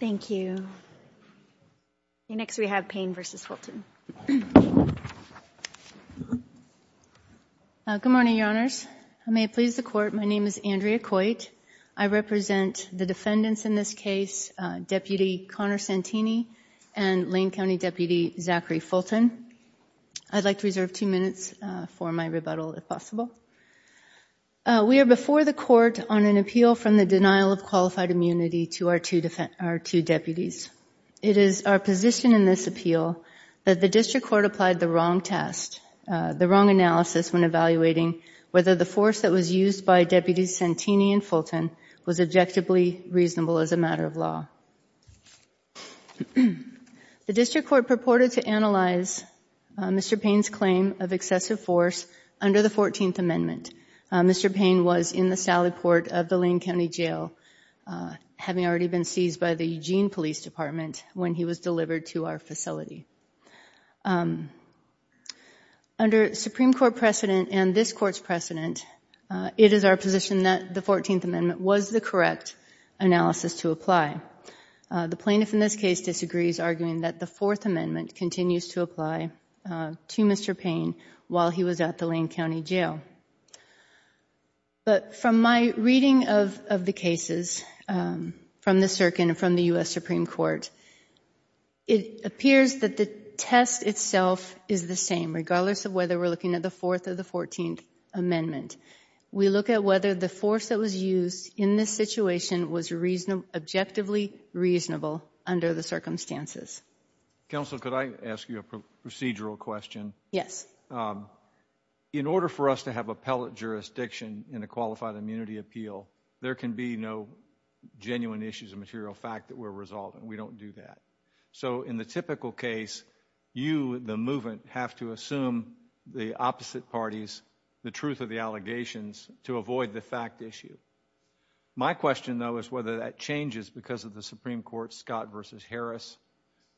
Thank you. Next we have Payne v. Fulton. Good morning, Your Honors. May it please the Court, my name is Andrea Coit. I represent the defendants in this case, Deputy Connor Santini and Lane County Deputy Zachary Fulton. I'd like to reserve two minutes for my rebuttal, if possible. We are before the Court on an appeal from the denial of qualified immunity to our two deputies. It is our position in this appeal that the District Court applied the wrong test, the wrong analysis when evaluating whether the force that was used by Deputies Santini and Fulton was objectively reasonable as a matter of law. The District Court purported to analyze Mr. Payne's of excessive force under the Fourteenth Amendment. Mr. Payne was in the Sally Port of the Lane County Jail, having already been seized by the Eugene Police Department when he was delivered to our facility. Under Supreme Court precedent and this Court's precedent, it is our position that the Fourteenth Amendment was the correct analysis to apply. The plaintiff in this case disagrees, arguing that the Fourth Amendment continues to apply to Mr. Payne while he was at the Lane County Jail. But from my reading of the cases from the Circuit and from the U.S. Supreme Court, it appears that the test itself is the same, regardless of whether we're looking at the Fourth or the Fourteenth Amendment. We look at whether the force that was used in this situation was objectively reasonable under the circumstances. Counsel, could I ask you a procedural question? Yes. In order for us to have appellate jurisdiction in a qualified immunity appeal, there can be no genuine issues of material fact that we're resolving. We don't do that. So in the typical case, you, the movement, have to assume the opposite parties the truth of the that changes because of the Supreme Court's Scott v. Harris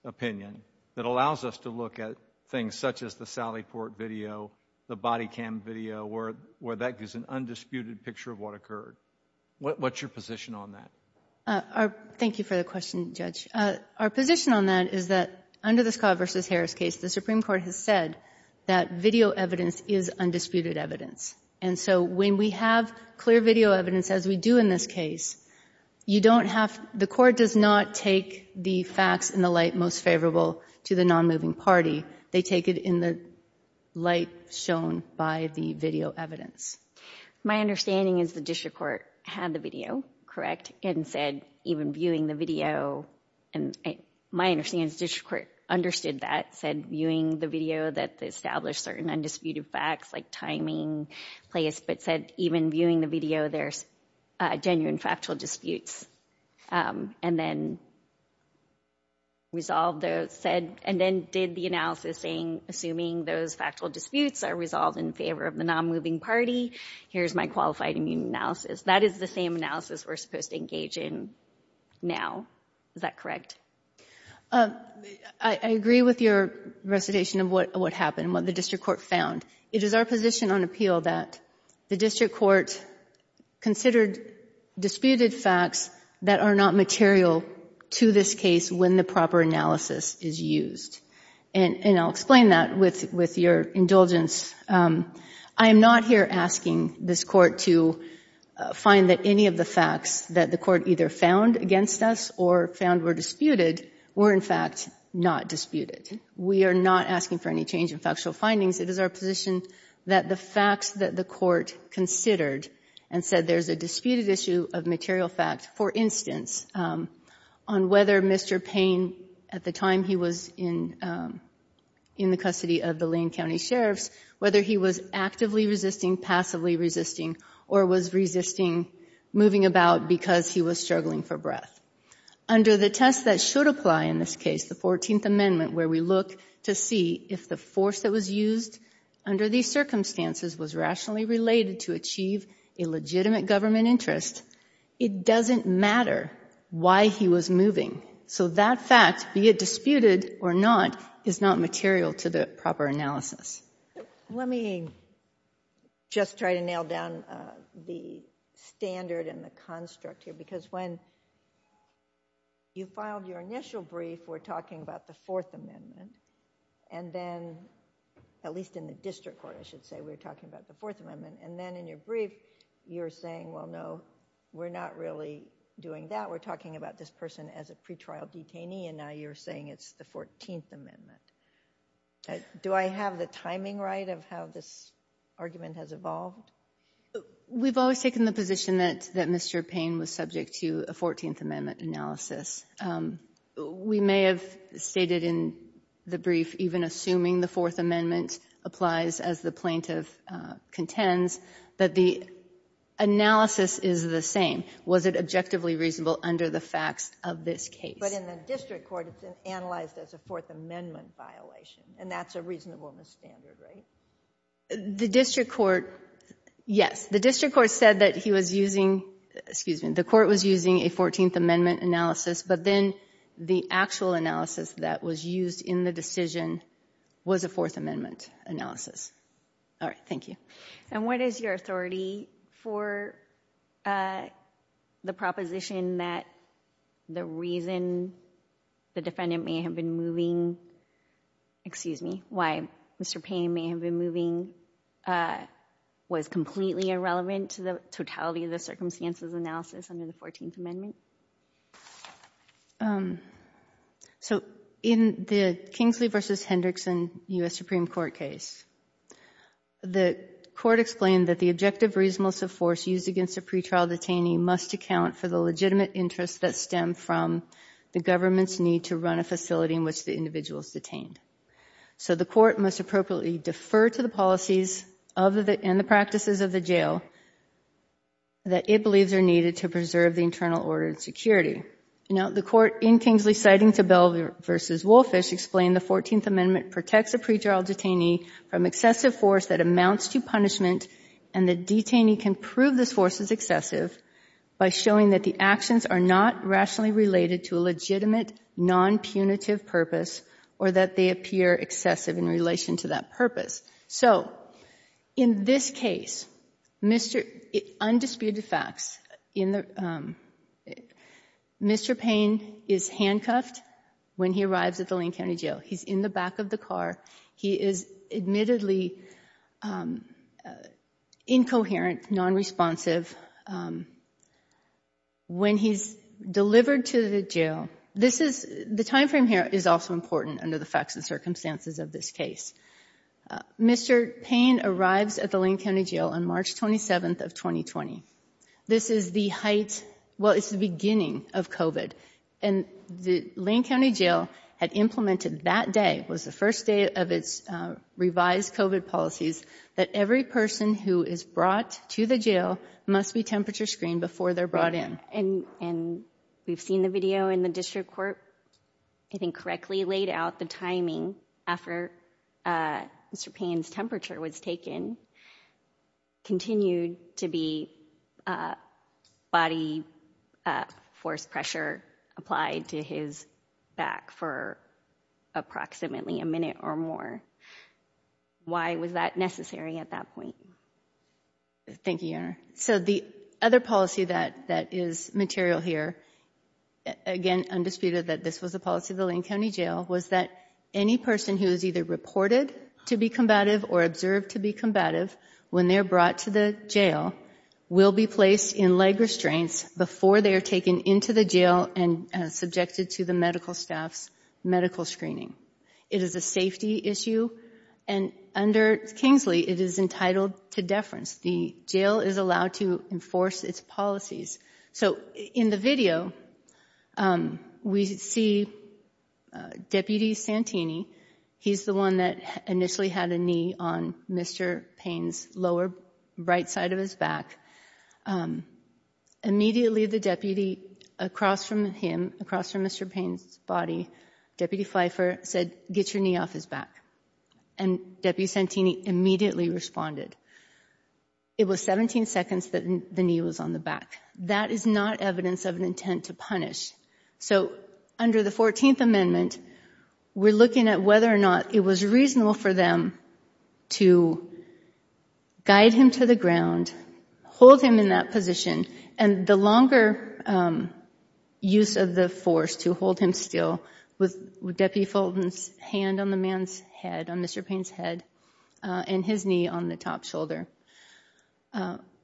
opinion that allows us to look at things such as the Sally Port video, the body cam video, where that gives an undisputed picture of what occurred. What's your position on that? Thank you for the question, Judge. Our position on that is that under the Scott v. Harris case, the Supreme Court has said that video evidence is undisputed evidence. And so when we have clear video evidence, as we do in this case, you don't have, the court does not take the facts in the light most favorable to the non-moving party. They take it in the light shown by the video evidence. My understanding is the district court had the video, correct, and said even viewing the video, and my understanding is the district court understood that, said viewing the video that established certain undisputed facts like timing, place, but said even viewing the video, there's genuine factual disputes. And then resolved those said, and then did the analysis saying, assuming those factual disputes are resolved in favor of the non-moving party, here's my qualified immune analysis. That is the same analysis we're supposed to engage in now. Is that correct? I agree with your recitation of what happened, what the district court found. It is our position on appeal that the district court considered disputed facts that are not material to this case when the proper analysis is used. And I'll explain that with your indulgence. I am not here asking this court to find that any of the facts that the court either found against us or found were disputed were, in fact, not disputed. We are not asking for any change in factual findings. It is our position that the facts that the court considered and said there's a disputed issue of material fact, for instance, on whether Mr. Payne, at the time he was in the custody of the Lane County sheriffs, whether he was actively resisting, passively resisting, or was resisting moving about because he was struggling for breath. Under the test that should apply in this case, the 14th Amendment, where we look to see if the force that was used under these circumstances was rationally related to achieve a legitimate government interest, it doesn't matter why he was moving. So that fact, be it disputed or not, is not material to the proper analysis. Let me just try to nail down the standard and the construct here. Because when you filed your initial brief, we're talking about the Fourth Amendment. And then, at least in the district court, I should say, we're talking about the Fourth Amendment. And then in your brief, you're saying, well, no, we're not really doing that. We're talking about this as a pretrial detainee, and now you're saying it's the 14th Amendment. Do I have the timing right of how this argument has evolved? We've always taken the position that Mr. Payne was subject to a 14th Amendment analysis. We may have stated in the brief, even assuming the Fourth Amendment applies as the plaintiff contends, that the analysis is the same. Was it objectively reasonable under the facts of this case? But in the district court, it's analyzed as a Fourth Amendment violation, and that's a reasonable misstandard, right? The district court, yes. The district court said that he was using, excuse me, the court was using a 14th Amendment analysis, but then the actual analysis that was used in the decision was a Fourth Amendment analysis. All right, thank you. And what is your authority for the proposition that the reason the defendant may have been moving, excuse me, why Mr. Payne may have been moving was completely irrelevant to the totality of the circumstances analysis under the 14th Amendment? Okay. So in the Kingsley v. Hendrickson U.S. Supreme Court case, the court explained that the objective reasonableness of force used against a pretrial detainee must account for the legitimate interests that stem from the government's need to run a facility in which the individual is detained. So the court must appropriately defer to the policies and the practices of the jail that it believes are needed to preserve the internal order and security. Now, the court in Kingsley citing to Bell v. Wolfish explained the 14th Amendment protects a pretrial detainee from excessive force that amounts to punishment, and the detainee can prove this force is excessive by showing that the actions are not rationally related to a legitimate, nonpunitive purpose or that they appear excessive in relation to that purpose. So in this case, undisputed facts, Mr. Payne is handcuffed when he arrives at the Lane County Jail. He's in the back of the car. He is admittedly incoherent, nonresponsive. When he's delivered to the jail, the time frame here is also important under the facts and circumstances of this case. Mr. Payne arrives at the Lane County Jail on March 27th of 2020. This is the height, well, it's the beginning of COVID, and the Lane County Jail had implemented that day, was the first day of its revised COVID policies, that every person who is brought to the jail must be temperature screened before they're brought in. And we've seen the video in the court, I think correctly laid out the timing after Mr. Payne's temperature was taken, continued to be body force pressure applied to his back for approximately a minute or more. Why was that necessary at that point? Thank you, Your Honor. So the other policy that is material here, again undisputed that this was a policy of the Lane County Jail, was that any person who is either reported to be combative or observed to be combative when they're brought to the jail will be placed in leg restraints before they are taken into the jail and subjected to the medical staff's medical screening. It is a safety issue, and under Kingsley, it is entitled to deference. The jail is allowed to enforce its policies. So in the video, we see Deputy Santini, he's the one that initially had a knee on Mr. Payne's lower right side of his back. Immediately, the deputy across from him, across from Mr. Payne's body, Deputy Pfeiffer said, get your knee off his back, and Deputy Santini immediately responded. It was 17 seconds that the knee was on the back. That is not evidence of an intent to punish. So under the 14th Amendment, we're looking at whether or not it was reasonable for them to guide him to the ground, hold him in that position, and the longer use of the force to hold him still with Deputy Fulton's hand on the man's head, on Mr. Payne's head, and his knee on the top shoulder,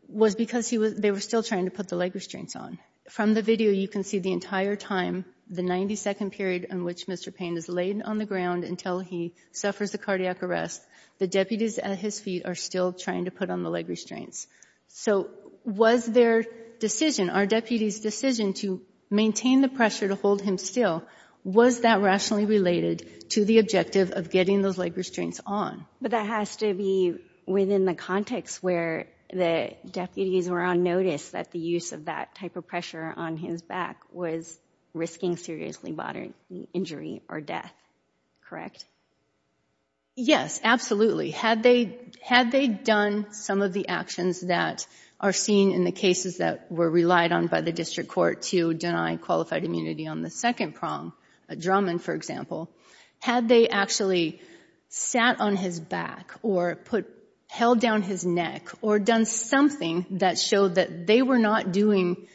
was because they were still trying to put the leg restraints on. From the video, you can see the entire time, the 90-second period in which Mr. Payne is laid on the ground until he suffers the cardiac arrest, the deputies at his feet are still trying to put on the leg restraints. So was their decision, our deputy's decision to maintain the pressure to hold him still, was that rationally related to the objective of getting those leg restraints on? But that has to be within the context where the deputies were on notice that the use of that type of pressure on his back was risking seriously bodily injury or death, correct? Yes, absolutely. Had they had they done some of the actions that are seen in the cases that were relied on by the district court to deny qualified immunity on the second prong, a drumming for example, had they actually sat on his back or put, held down his neck or done something that showed that they were not doing,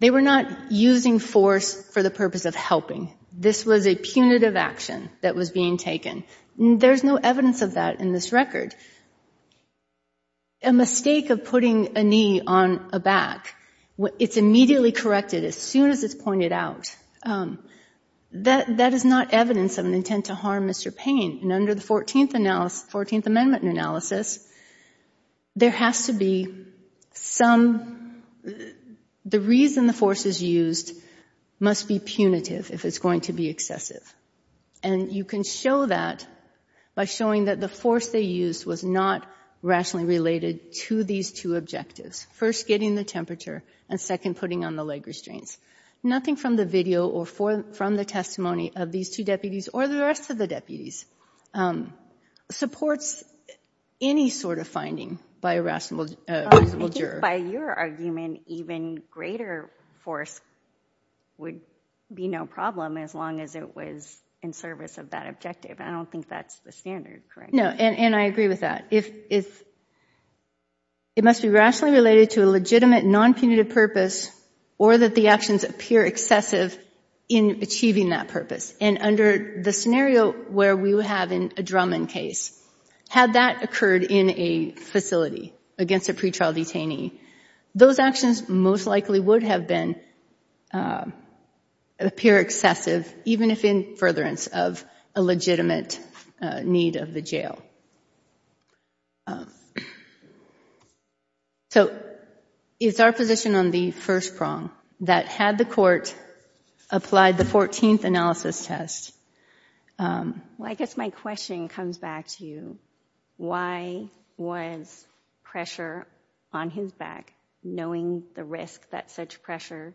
they were not using force for the purpose of This was a punitive action that was being taken. There's no evidence of that in this record. A mistake of putting a knee on a back, it's immediately corrected as soon as it's pointed out. That is not evidence of an intent to harm Mr. Payne. And under the 14th it's going to be excessive. And you can show that by showing that the force they used was not rationally related to these two objectives. First, getting the temperature and second, putting on the leg restraints. Nothing from the video or from the testimony of these two deputies or the rest of the deputies supports any sort of finding by a rational juror. By your argument, even greater force would be no problem as long as it was in service of that objective. I don't think that's the standard, correct? No, and I agree with that. It must be rationally related to a legitimate non-punitive purpose or that the actions appear excessive in achieving that purpose. And under the scenario where we have a drumming case, had that occurred in a facility against a pretrial detainee, those actions most likely would have been, appear excessive, even if in furtherance of a legitimate need of the jail. So it's our position on the first prong that had the court applied the 14th analysis test. Well, I guess my question comes back to why was pressure on his back, knowing the risk that such pressure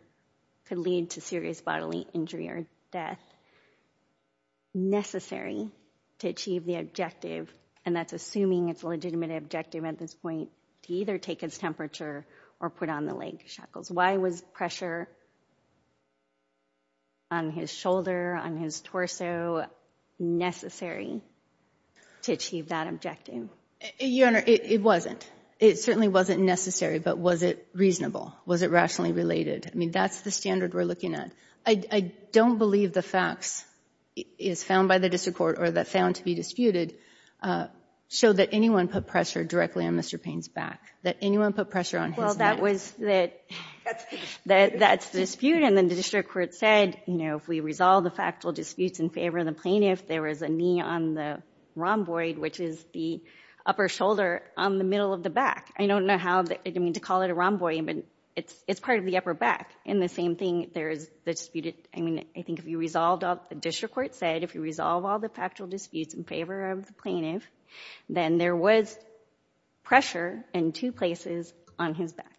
could lead to serious bodily injury or death, necessary to achieve the objective? And that's assuming it's a legitimate objective at this point to either take his temperature or put on the leg shackles. Why was pressure on his shoulder, on his torso necessary to achieve that objective? Your Honor, it wasn't. It certainly wasn't necessary, but was it reasonable? Was it rationally related? I mean, that's the standard we're looking at. I don't believe the facts is found by the district court or that found to be disputed show that anyone put pressure directly on Mr. Payne's back, that anyone put pressure on his neck. Well, that's the dispute, and then the district court said, you know, if we resolve the factual disputes in favor of the plaintiff, there was a knee on the rhomboid, which is the upper shoulder on the middle of the back. I don't know how to call it a rhomboid, but it's part of the upper back. And the same thing, there's the disputed, I mean, I think if you resolved, the district court said, if you resolve all the factual disputes in favor of the plaintiff, then there was pressure in two places on his back.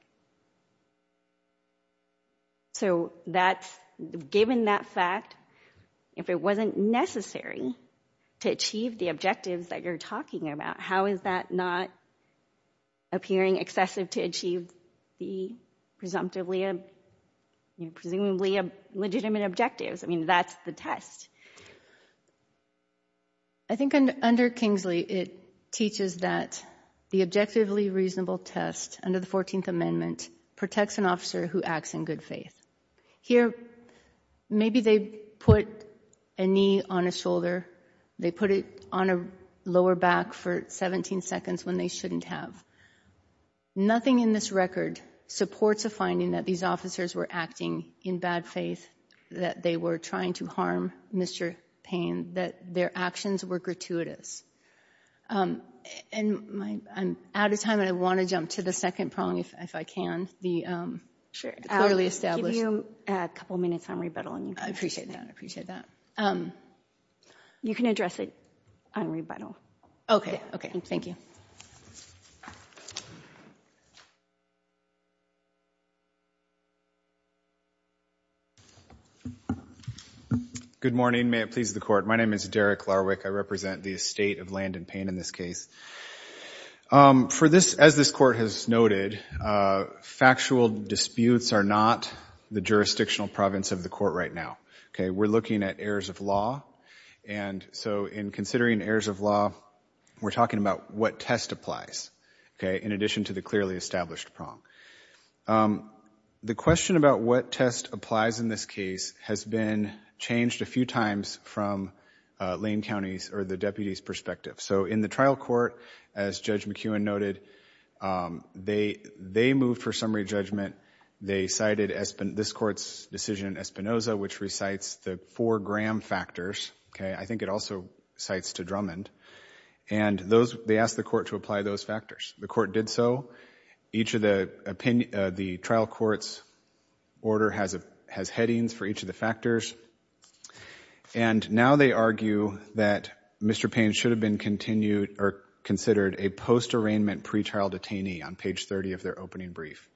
So that's, given that fact, if it wasn't necessary to achieve the objectives that you're talking about, how is that not appearing excessive to achieve the presumptively, presumably legitimate objectives? I mean, that's the test. I think under Kingsley, it teaches that the objectively reasonable test under the 14th Amendment protects an officer who acts in good faith. Here, maybe they put a knee on a shoulder, they put it on a lower back for 17 seconds when they shouldn't have. Nothing in this record supports a finding that these officers were acting in bad faith, that they were trying to harm Mr. Payne, that their actions were gratuitous. And I'm out of time, and I want to jump to the second prong, if I can, the clearly established. I'll give you a couple minutes on rebuttal. I appreciate that. I appreciate that. You can address it on rebuttal. Okay. Okay. Thank you. Good morning. May it please the Court. My name is Derek Larwick. I represent the estate of Landon Payne in this case. As this Court has noted, factual disputes are not the jurisdictional province of the Court right now. We're looking at errors of law, and so in considering errors of law, we're talking about what test applies, okay, in addition to the clearly established prong. The question about what test applies in this case has been changed a few times from Lane County's, or the deputy's, perspective. So in the trial court, as Judge McEwen noted, they moved for summary judgment. They cited this Court's decision in Espinoza, which recites the four Graham factors, okay, I think it also cites to Drummond, and those, they asked the Court to apply those factors. The Court did so. Each of the trial court's order has headings for each of the factors, and now they argue that Mr. Payne should have been continued, or considered, a post-arraignment pretrial detainee on page 30 of their opening brief,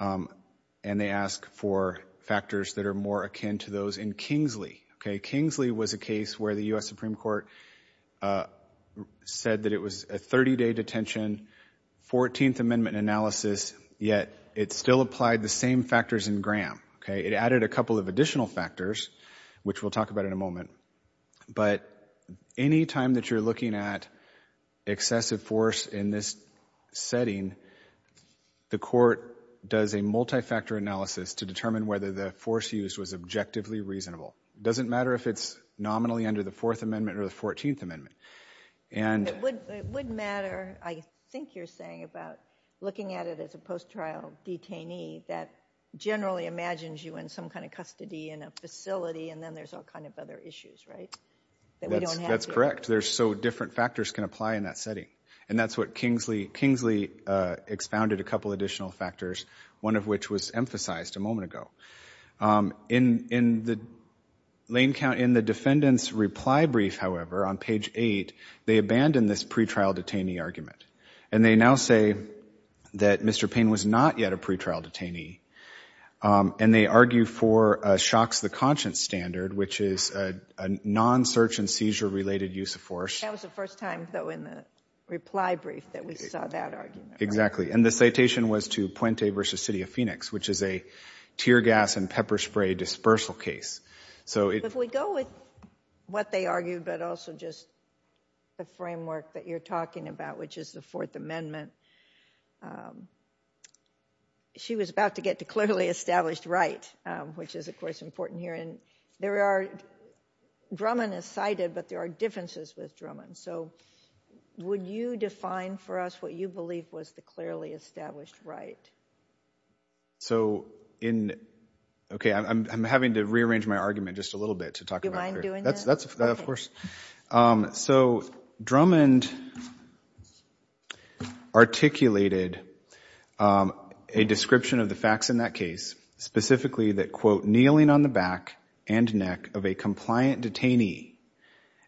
and they ask for factors that are more akin to those in Kingsley, okay. Kingsley was a case where the U.S. Supreme Court said that it was a 30-day detention, 14th Amendment analysis, yet it still applied the same factors in Graham, okay. It added a couple of additional factors, which we'll talk about in a moment, but any time that you're looking at excessive force in this setting, the Court does a multi-factor analysis to determine whether the force used was objectively reasonable. It doesn't matter if it's nominally under the Fourth Amendment or the Fourteenth Amendment, and— It would matter, I think you're saying, about looking at it as a post-trial detainee that generally imagines you in some kind of custody in a facility, and then there's all kind of other issues, right? That we don't have— That's correct. So different factors can apply in that setting, and that's what Kingsley— Kingsley expounded a couple additional factors, one of which was emphasized a moment ago. In the defendant's reply brief, however, on page 8, they abandon this pretrial detainee argument, and they now say that Mr. Payne was not yet a pretrial detainee, and they argue for a shocks-the-conscience standard, which is a non-search-and-seizure-related use of force. That was the first time, though, in the reply brief that we saw that argument. Exactly, and the citation was to Puente v. City of Phoenix, which is a tear gas and pepper spray dispersal case, so it— If we go with what they argued, but also just the framework that you're talking about, which is the Fourth Amendment, she was about to get to clearly established right, which is, of course, important here, and there are— Drummond is cited, but there are differences with Drummond, so would you define for us what you believe was the clearly established right? So in— Okay, I'm having to rearrange my argument just a little bit to talk about— Do you mind doing that? Of course. So Drummond articulated a description of the facts in that case, specifically that, quote, kneeling on the back and neck of a compliant detainee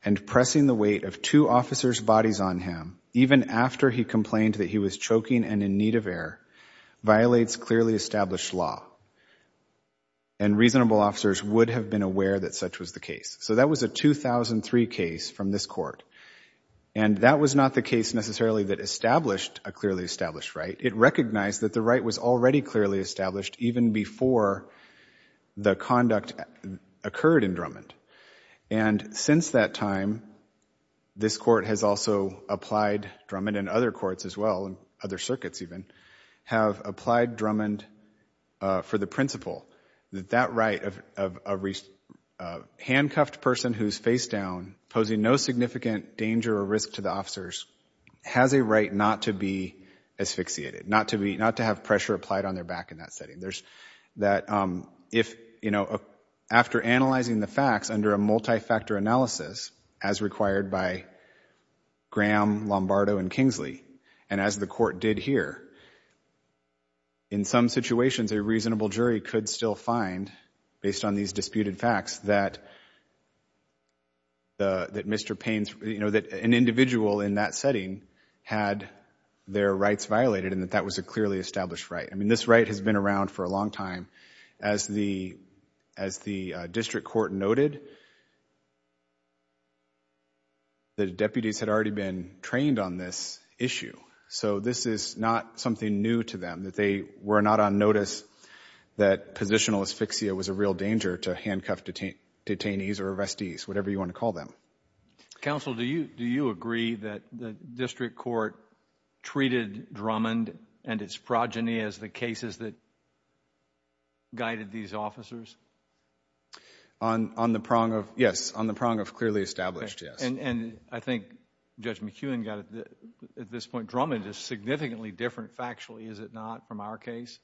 and pressing the weight of two officers' bodies on him, even after he complained that he was choking and in need of air, violates clearly established law, and reasonable officers would have been aware that such was the the case necessarily that established a clearly established right. It recognized that the right was already clearly established even before the conduct occurred in Drummond, and since that time, this court has also applied— Drummond and other courts as well, other circuits even— have applied Drummond for the principle that that right of a handcuffed person who's face down, posing no significant danger or risk to the officers, has a right not to be asphyxiated, not to be— not to have pressure applied on their back in that setting. There's— that if, you know, after analyzing the facts under a multi-factor analysis, as required by Graham, Lombardo, and Kingsley, and as the court did here, in some situations a reasonable jury could still find, based on these disputed facts, that the— that Mr. Payne's, you know, that an individual in that setting had their rights violated, and that that was a clearly established right. I mean this right has been around for a long time. As the— as the district court noted, the deputies had already been trained on this issue, so this is not something new to them, that they were not on notice that positional asphyxia was a real danger to handcuffed detain— detainees or arrestees, whatever you want to call them. Counsel, do you— do you agree that the district court treated Drummond and its progeny as the cases that guided these officers? On— on the prong of— yes, on the prong of clearly established, yes. And— and I think Judge McEwen got at this point, Drummond is significantly different factually, is it not, from our case?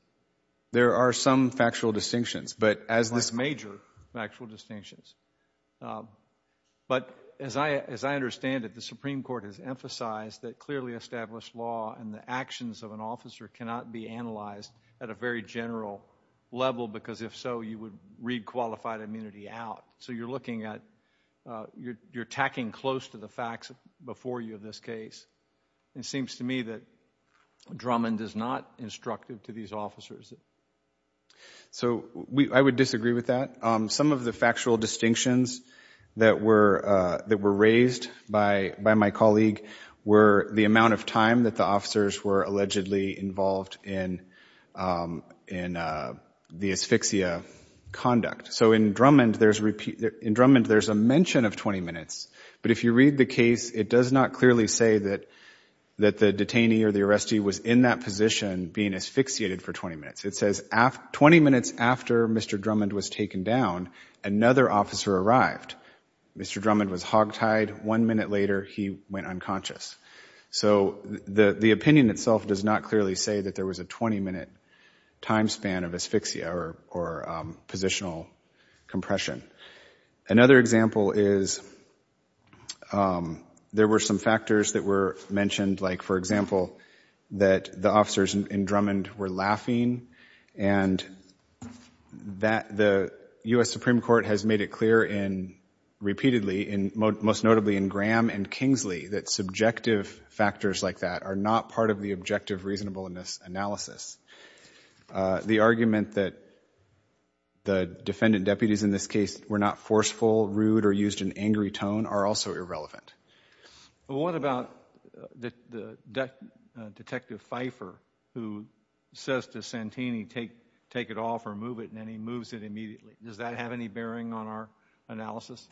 There are some factual distinctions, but as this— Major factual distinctions. But as I— as I understand it, the Supreme Court has emphasized that clearly established law and the actions of an officer cannot be analyzed at a very general level, because if so, you would read qualified immunity out. So you're looking at— you're— you're tacking close to the facts before you of this case. It seems to me that Drummond is not instructive to these officers. So we— I would disagree with that. Some of the factual distinctions that were— that were raised by— by my colleague were the amount of time that the officers were allegedly involved in— in the asphyxia conduct. So in Drummond, there's repeat— in Drummond, there's a mention of 20 minutes, but if you read the case, it does not clearly say that— that the detainee or the arrestee was in that position being asphyxiated for 20 minutes. It says af— 20 minutes after Mr. Drummond was taken down, another officer arrived. Mr. Drummond was hogtied. One minute later, he went unconscious. So the— the opinion itself does not clearly say that there was a 20-minute time span of asphyxia or— or positional compression. Another example is there were some factors that were mentioned. Like, for example, that the officers in Drummond were laughing, and that the U.S. Supreme Court has made it clear in— repeatedly, in— most notably in Graham and Kingsley, that subjective factors like that are not part of the objective reasonableness analysis. Uh, the argument that the defendant deputies in this case were not forceful, rude, or used an angry tone are also irrelevant. Well, what about the— the detective Pfeiffer who says to Santini, take— take it off or move it, and then he moves it immediately? Does that have any bearing on our analysis?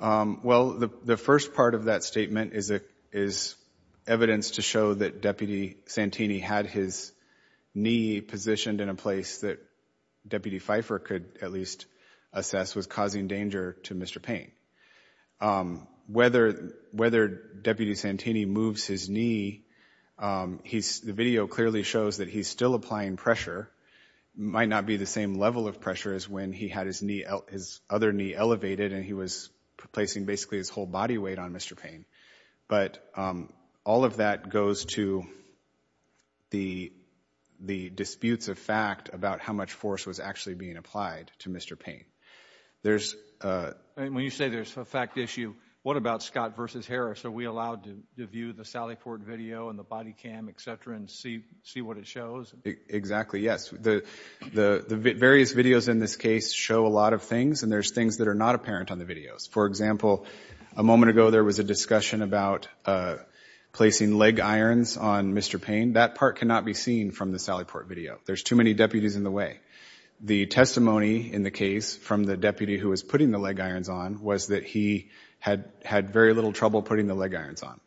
Um, well, the— the first part of that statement is a— is evidence to show that Deputy Santini had his knee positioned in a place that Deputy Pfeiffer could at least assess was causing danger to Mr. Payne. Um, whether— whether Deputy Santini moves his knee, um, he's— the video clearly shows that he's still applying pressure. Might not be the same level of pressure as when he had his knee— his other knee elevated, and he was placing basically his whole body weight on Mr. Payne. But, um, all of that goes to the— the disputes of fact about how much force was actually being applied to Mr. Payne. There's, uh— And when you say there's a fact issue, what about Scott versus Harris? Are we allowed to view the Sally Ford video and the body cam, etc., and see— see what it shows? Exactly, yes. The— the— the various videos in this case show a lot of things, and there's things that are not apparent on the videos. For example, a moment ago there was a discussion about, uh, placing leg irons on Mr. Payne. That part cannot be seen from the Sally Ford video. There's too many deputies in the way. The testimony in the case from the deputy who was putting the leg irons on was that he had— had very little trouble putting the leg irons on.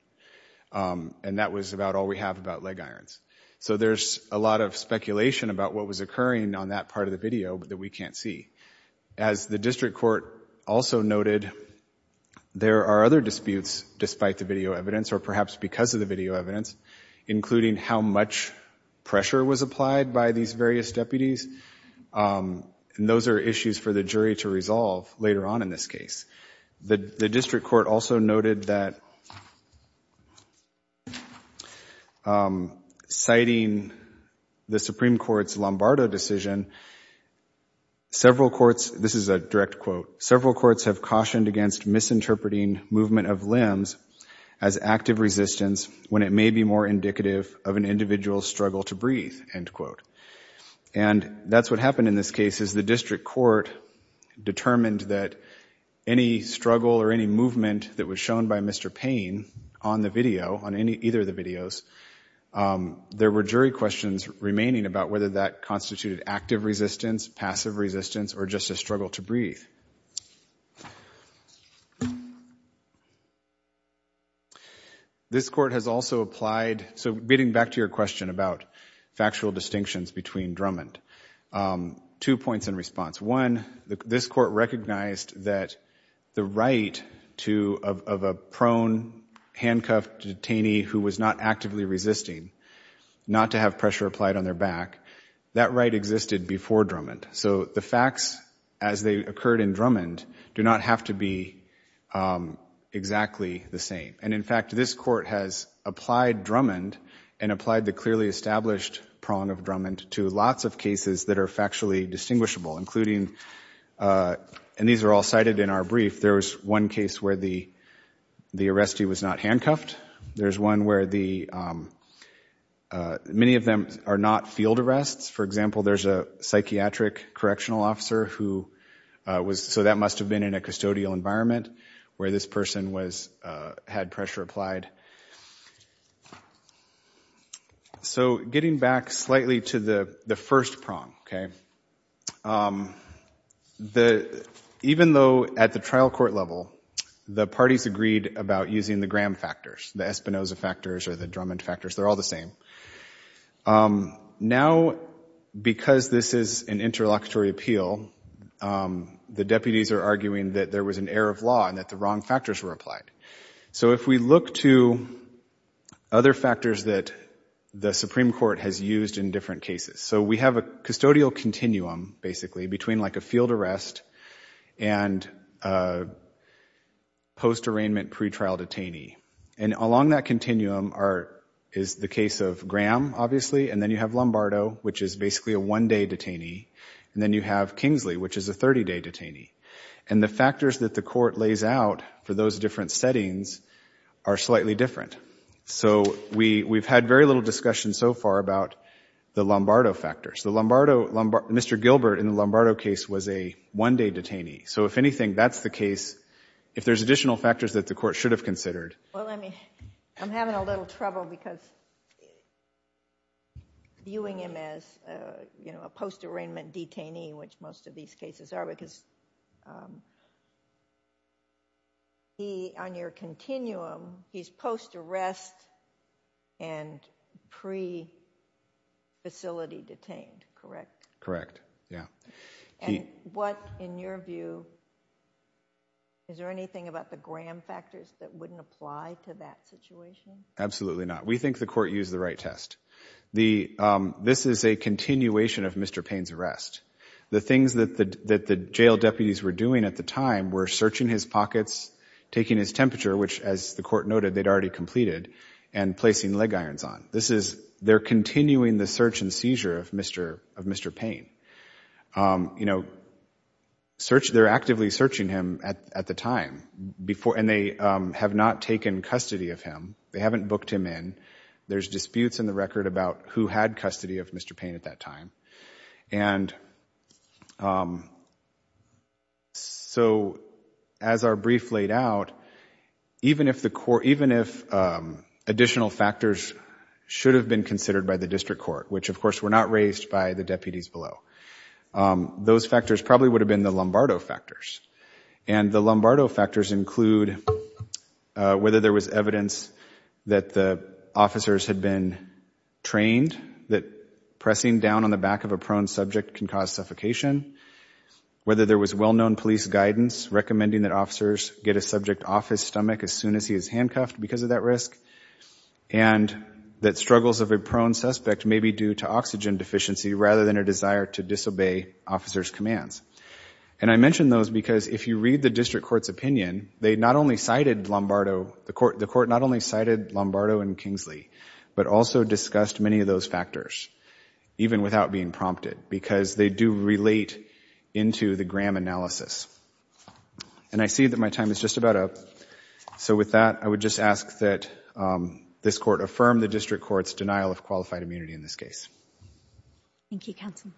Um, and that was about all we have about leg irons. So there's a lot of speculation about what was occurring on that part of the video but that we can't see. As the district court also noted, there are other disputes despite the video evidence or perhaps because of the video evidence, including how much pressure was applied by these various deputies. Um, and those are issues for the jury to resolve later on in this case. The— the district court also noted that, um, citing the Supreme Court's Lombardo decision, several courts— this is a direct quote— several courts have cautioned against misinterpreting movement of limbs as active resistance when it may be more indicative of an individual's struggle to breathe, end quote. And that's what happened in this case is the district court determined that any struggle or any movement that was shown by Mr. Payne on the video, on any— either of the videos, um, there were jury questions remaining about whether that constituted active resistance, passive resistance, or just a struggle to breathe. This court has also applied— so getting back to your question about factual distinctions between Drummond, um, two points in response. One, this court recognized that the right to— of a prone, handcuffed detainee who was not actively resisting, not to have pressure applied on their back, that right existed before Drummond. So the facts as they occurred in Drummond do not have to be, um, exactly the same. And in fact, this court has applied Drummond and applied the clearly established prong of Drummond to lots of cases that are factually distinguishable, including, uh— and these are all cited in our brief— there was one case where the arrestee was not handcuffed. There's one where the, um— many of them are not field arrests. For example, there's a psychiatric correctional officer who was— so that must have been in a custodial environment where this person was— had pressure applied. So getting back slightly to the first prong, okay, um, the— even though at the trial court level, the parties agreed about using the Graham factors, the Espinoza factors or the Drummond factors, they're all the same. Um, now, because this is an interlocutory appeal, um, the deputies are arguing that there was an error of law and that the wrong factors were applied. So if we look to other factors that the Supreme Court has used in different cases— so we have a custodial continuum, basically, between, like, a field arrest and a post-arraignment pretrial detainee. And along that continuum are— is the case of Graham, obviously, and then you have Lombardo, which is basically a one-day detainee. And then you have Kingsley, which is a 30-day detainee. And the factors that the court lays out for those different settings are slightly different. So we— we've had very little discussion so far about the Lombardo factors. The Lombardo— Mr. Gilbert in the Lombardo case was a one-day detainee. So if anything, that's the case. If there's additional factors that the court should have considered— JUSTICE GINSBURG Well, let me— I'm having a little trouble because viewing him as, you know, a post-arraignment detainee, which most of these cases are, because he— on your continuum, he's post-arrest and pre-facility detained, correct? MR. GILBERT Correct, yeah. JUSTICE GINSBURG And what, in your view, is there anything about the Graham factors that wouldn't apply to that situation? GILBERT Absolutely not. We think the court used the right test. The— this is a continuation of Mr. Payne's arrest. The things that the— that the jail deputies were doing at the time were searching his pockets, taking his temperature, which, as the court noted, they'd already completed, and placing leg irons on. This is— they're continuing the search and seizure of Mr.— of Mr. Payne. You know, search— they're actively searching him at— at the time. Before— and they have not taken custody of him. They haven't booked him in. There's disputes in the record about who had custody of Mr. Payne at that time. And so, as our brief laid out, even if the court— even if additional factors should have been considered by the district court, which, of course, were not raised by the deputies below, those factors probably would have been the Lombardo factors. And the Lombardo factors include whether there was evidence that the officers had been trained, that pressing down on the back of a prone subject can cause suffocation, whether there was well-known police guidance recommending that officers get a subject off his stomach as soon as he is handcuffed because of that risk, and that struggles of a prone suspect may be due to oxygen deficiency rather than a desire to disobey officers' commands. And I mention those because if you read the district court's opinion, they not only cited Lombardo— the court— the court not only cited Lombardo and Kingsley, but also discussed many of those factors, even without being prompted, because they do relate into the Graham analysis. And I see that my time is just about up. So, with that, I would just ask that this court affirm the district court's denial of qualified immunity in this case. Thank you, counsel.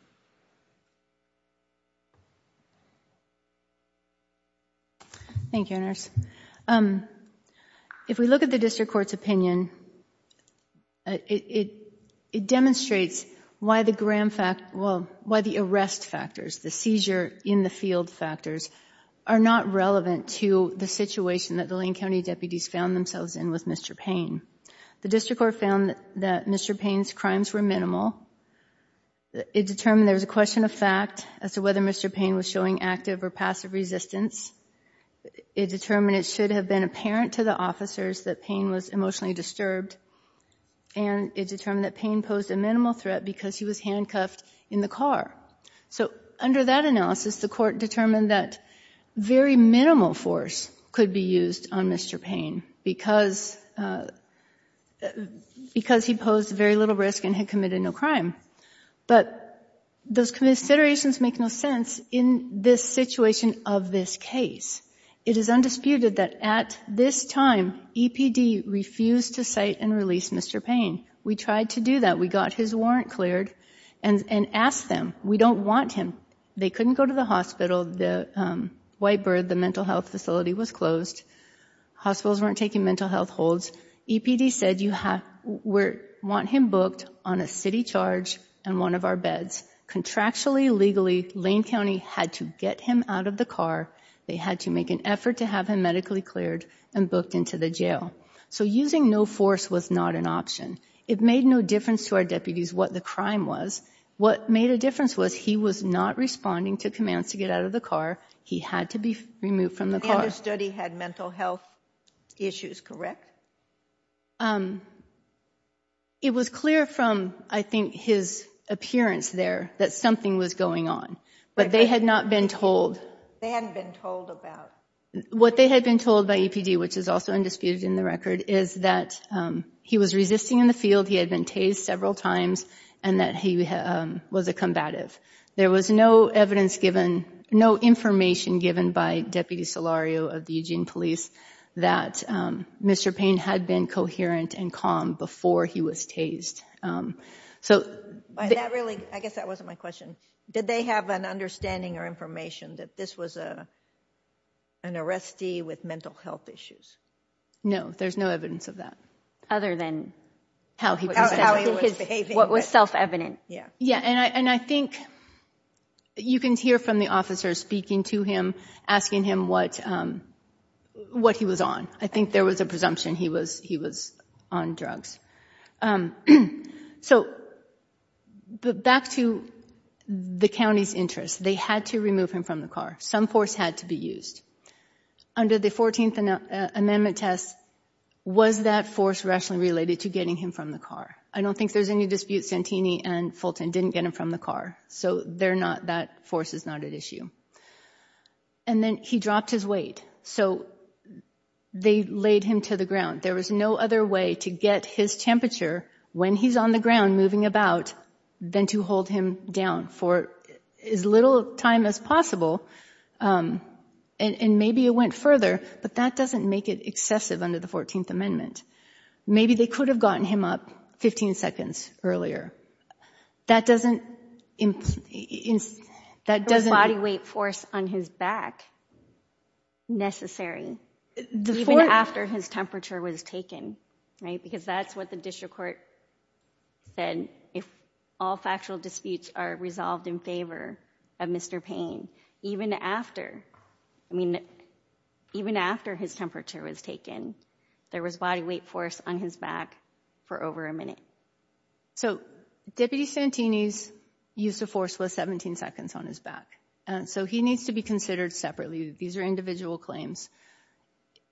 Thank you, Inez. If we look at the district court's opinion, it demonstrates why the Graham fact— well, why the arrest factors, the seizure in the field factors are not relevant to the situation that the Lane County deputies found themselves in with Mr. Payne. The district court found that Mr. Payne's crimes were minimal. It determined there was a question of fact as to whether Mr. Payne was showing active or passive resistance. It determined it should have been apparent to the officers that Payne was emotionally disturbed. And it determined that Payne posed a minimal threat because he was handcuffed in the car. So, under that analysis, the court determined that very minimal force could be used on Mr. Payne because he posed very little risk and had committed no crime. But those considerations make no sense in this situation of this case. It is undisputed that at this time, EPD refused to cite and release Mr. Payne. We tried to do that. We got his warrant cleared and asked them. We don't want him. They couldn't go to the hospital. The White Bird, the mental health facility, was closed. Hospitals weren't taking mental health holds. EPD said you want him booked on a city charge in one of our beds. Contractually, legally, Lane County had to get him out of the car. They had to make an effort to have him medically cleared and booked into the jail. So, using no force was not an option. It made no difference to our deputies what the crime was. What made a difference was he was not responding to commands to get out of the car. He had to be removed from the car. And his study had mental health issues, correct? Um, it was clear from, I think, his appearance there that something was going on. But they had not been told. They hadn't been told about? What they had been told by EPD, which is also undisputed in the record, is that he was resisting in the field. He had been tased several times and that he was a combative. There was no evidence given, no information given by Deputy Solario of the Eugene Police that Mr. Payne had been coherent and calm before he was tased. So, that really, I guess that wasn't my question. Did they have an understanding or information that this was an arrestee with mental health issues? No, there's no evidence of that. Other than how he was behaving? What was self-evident? Yeah, and I think you can hear from the officers speaking to him, asking him what he was on. I think there was a presumption he was on drugs. So, back to the county's interest. They had to remove him from the car. Some force had to be used. Under the 14th Amendment test, was that force rationally related to getting him from the car? I don't think there's any dispute Santini and Fulton didn't get him from the car. So, they're not, that force is not at issue. And then he dropped his weight. So, they laid him to the ground. There was no other way to get his temperature when he's on the ground, moving about, than to hold him down for as little time as possible. And maybe it went further, but that doesn't make it excessive under the 14th Amendment. Maybe they could have gotten him up 15 seconds earlier. That doesn't... There was body weight force on his back necessary, even after his temperature was taken, right? Because that's what the district court said, if all factual disputes are resolved in favor of Mr. Payne. Even after, I mean, even after his temperature was taken, there was body weight force on his back for over a minute. So, Deputy Santini's use of force was 17 seconds on his back. So, he needs to be considered separately. These are individual claims.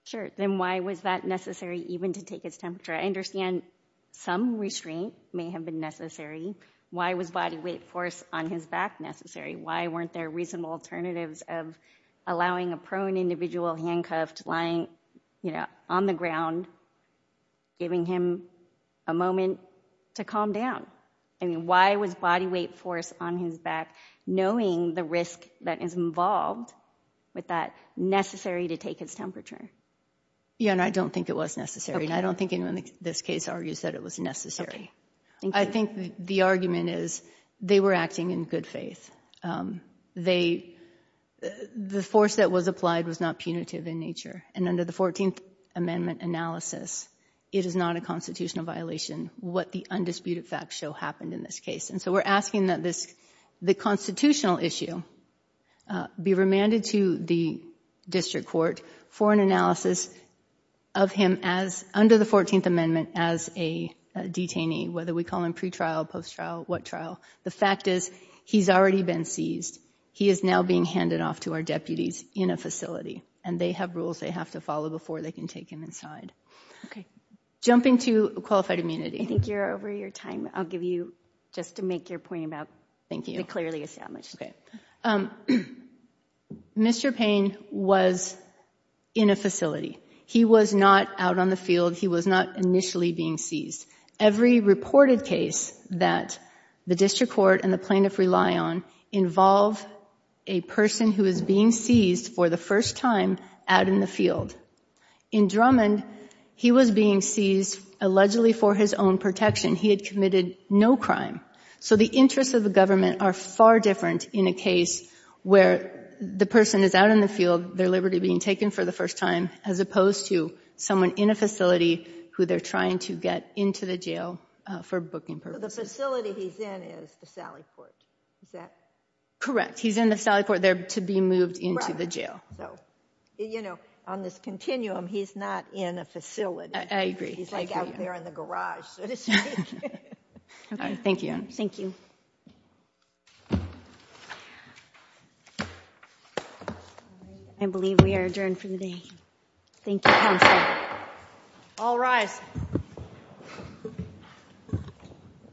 Sure. Then why was that necessary, even to take his temperature? I understand some restraint may have been necessary. Why was body weight force on his back necessary? Why weren't there reasonable alternatives of allowing a prone individual handcuffed, lying, you know, on the ground, giving him a moment to calm down? I mean, why was body weight force on his back, knowing the risk that is involved with that necessary to take his temperature? Yeah, and I don't think it was necessary. And I don't think anyone in this case argues that it was necessary. I think the argument is they were acting in good faith. They, the force that was applied was not punitive in nature. And under the 14th Amendment analysis, it is not a constitutional violation what the undisputed facts show happened in this case. And so, we're asking that this, the constitutional issue, be remanded to the district court for an analysis of him as, under the 14th Amendment, as a detainee, whether we call him pre-trial, post-trial, what trial. The fact is, he's already been seized. He is now being handed off to our deputies in a facility. And they have rules they have to follow before they can take him inside. Okay. Jumping to qualified immunity. I think you're over your time. I'll give you, just to make your point about. Thank you. Clearly established. Okay. Mr. Payne was in a facility. He was not out on the field. He was not initially being seized. Every reported case that the district court and the plaintiff rely on involve a person who is being seized for the first time out in the field. In Drummond, he was being seized allegedly for his own protection. He had committed no crime. So, the interests of the government are far different in a case where the person is out in the field, their liberty being taken for the first time, as opposed to someone in a facility who they're trying to get into the jail for booking purposes. The facility he's in is the Sallie Court, is that? Correct. He's in the Sallie Court there to be moved into the jail. So, you know, on this continuum, he's not in a facility. I agree. He's like out there in the garage, so to speak. Thank you. Thank you. I believe we are adjourned for the day. Thank you, counsel. All rise.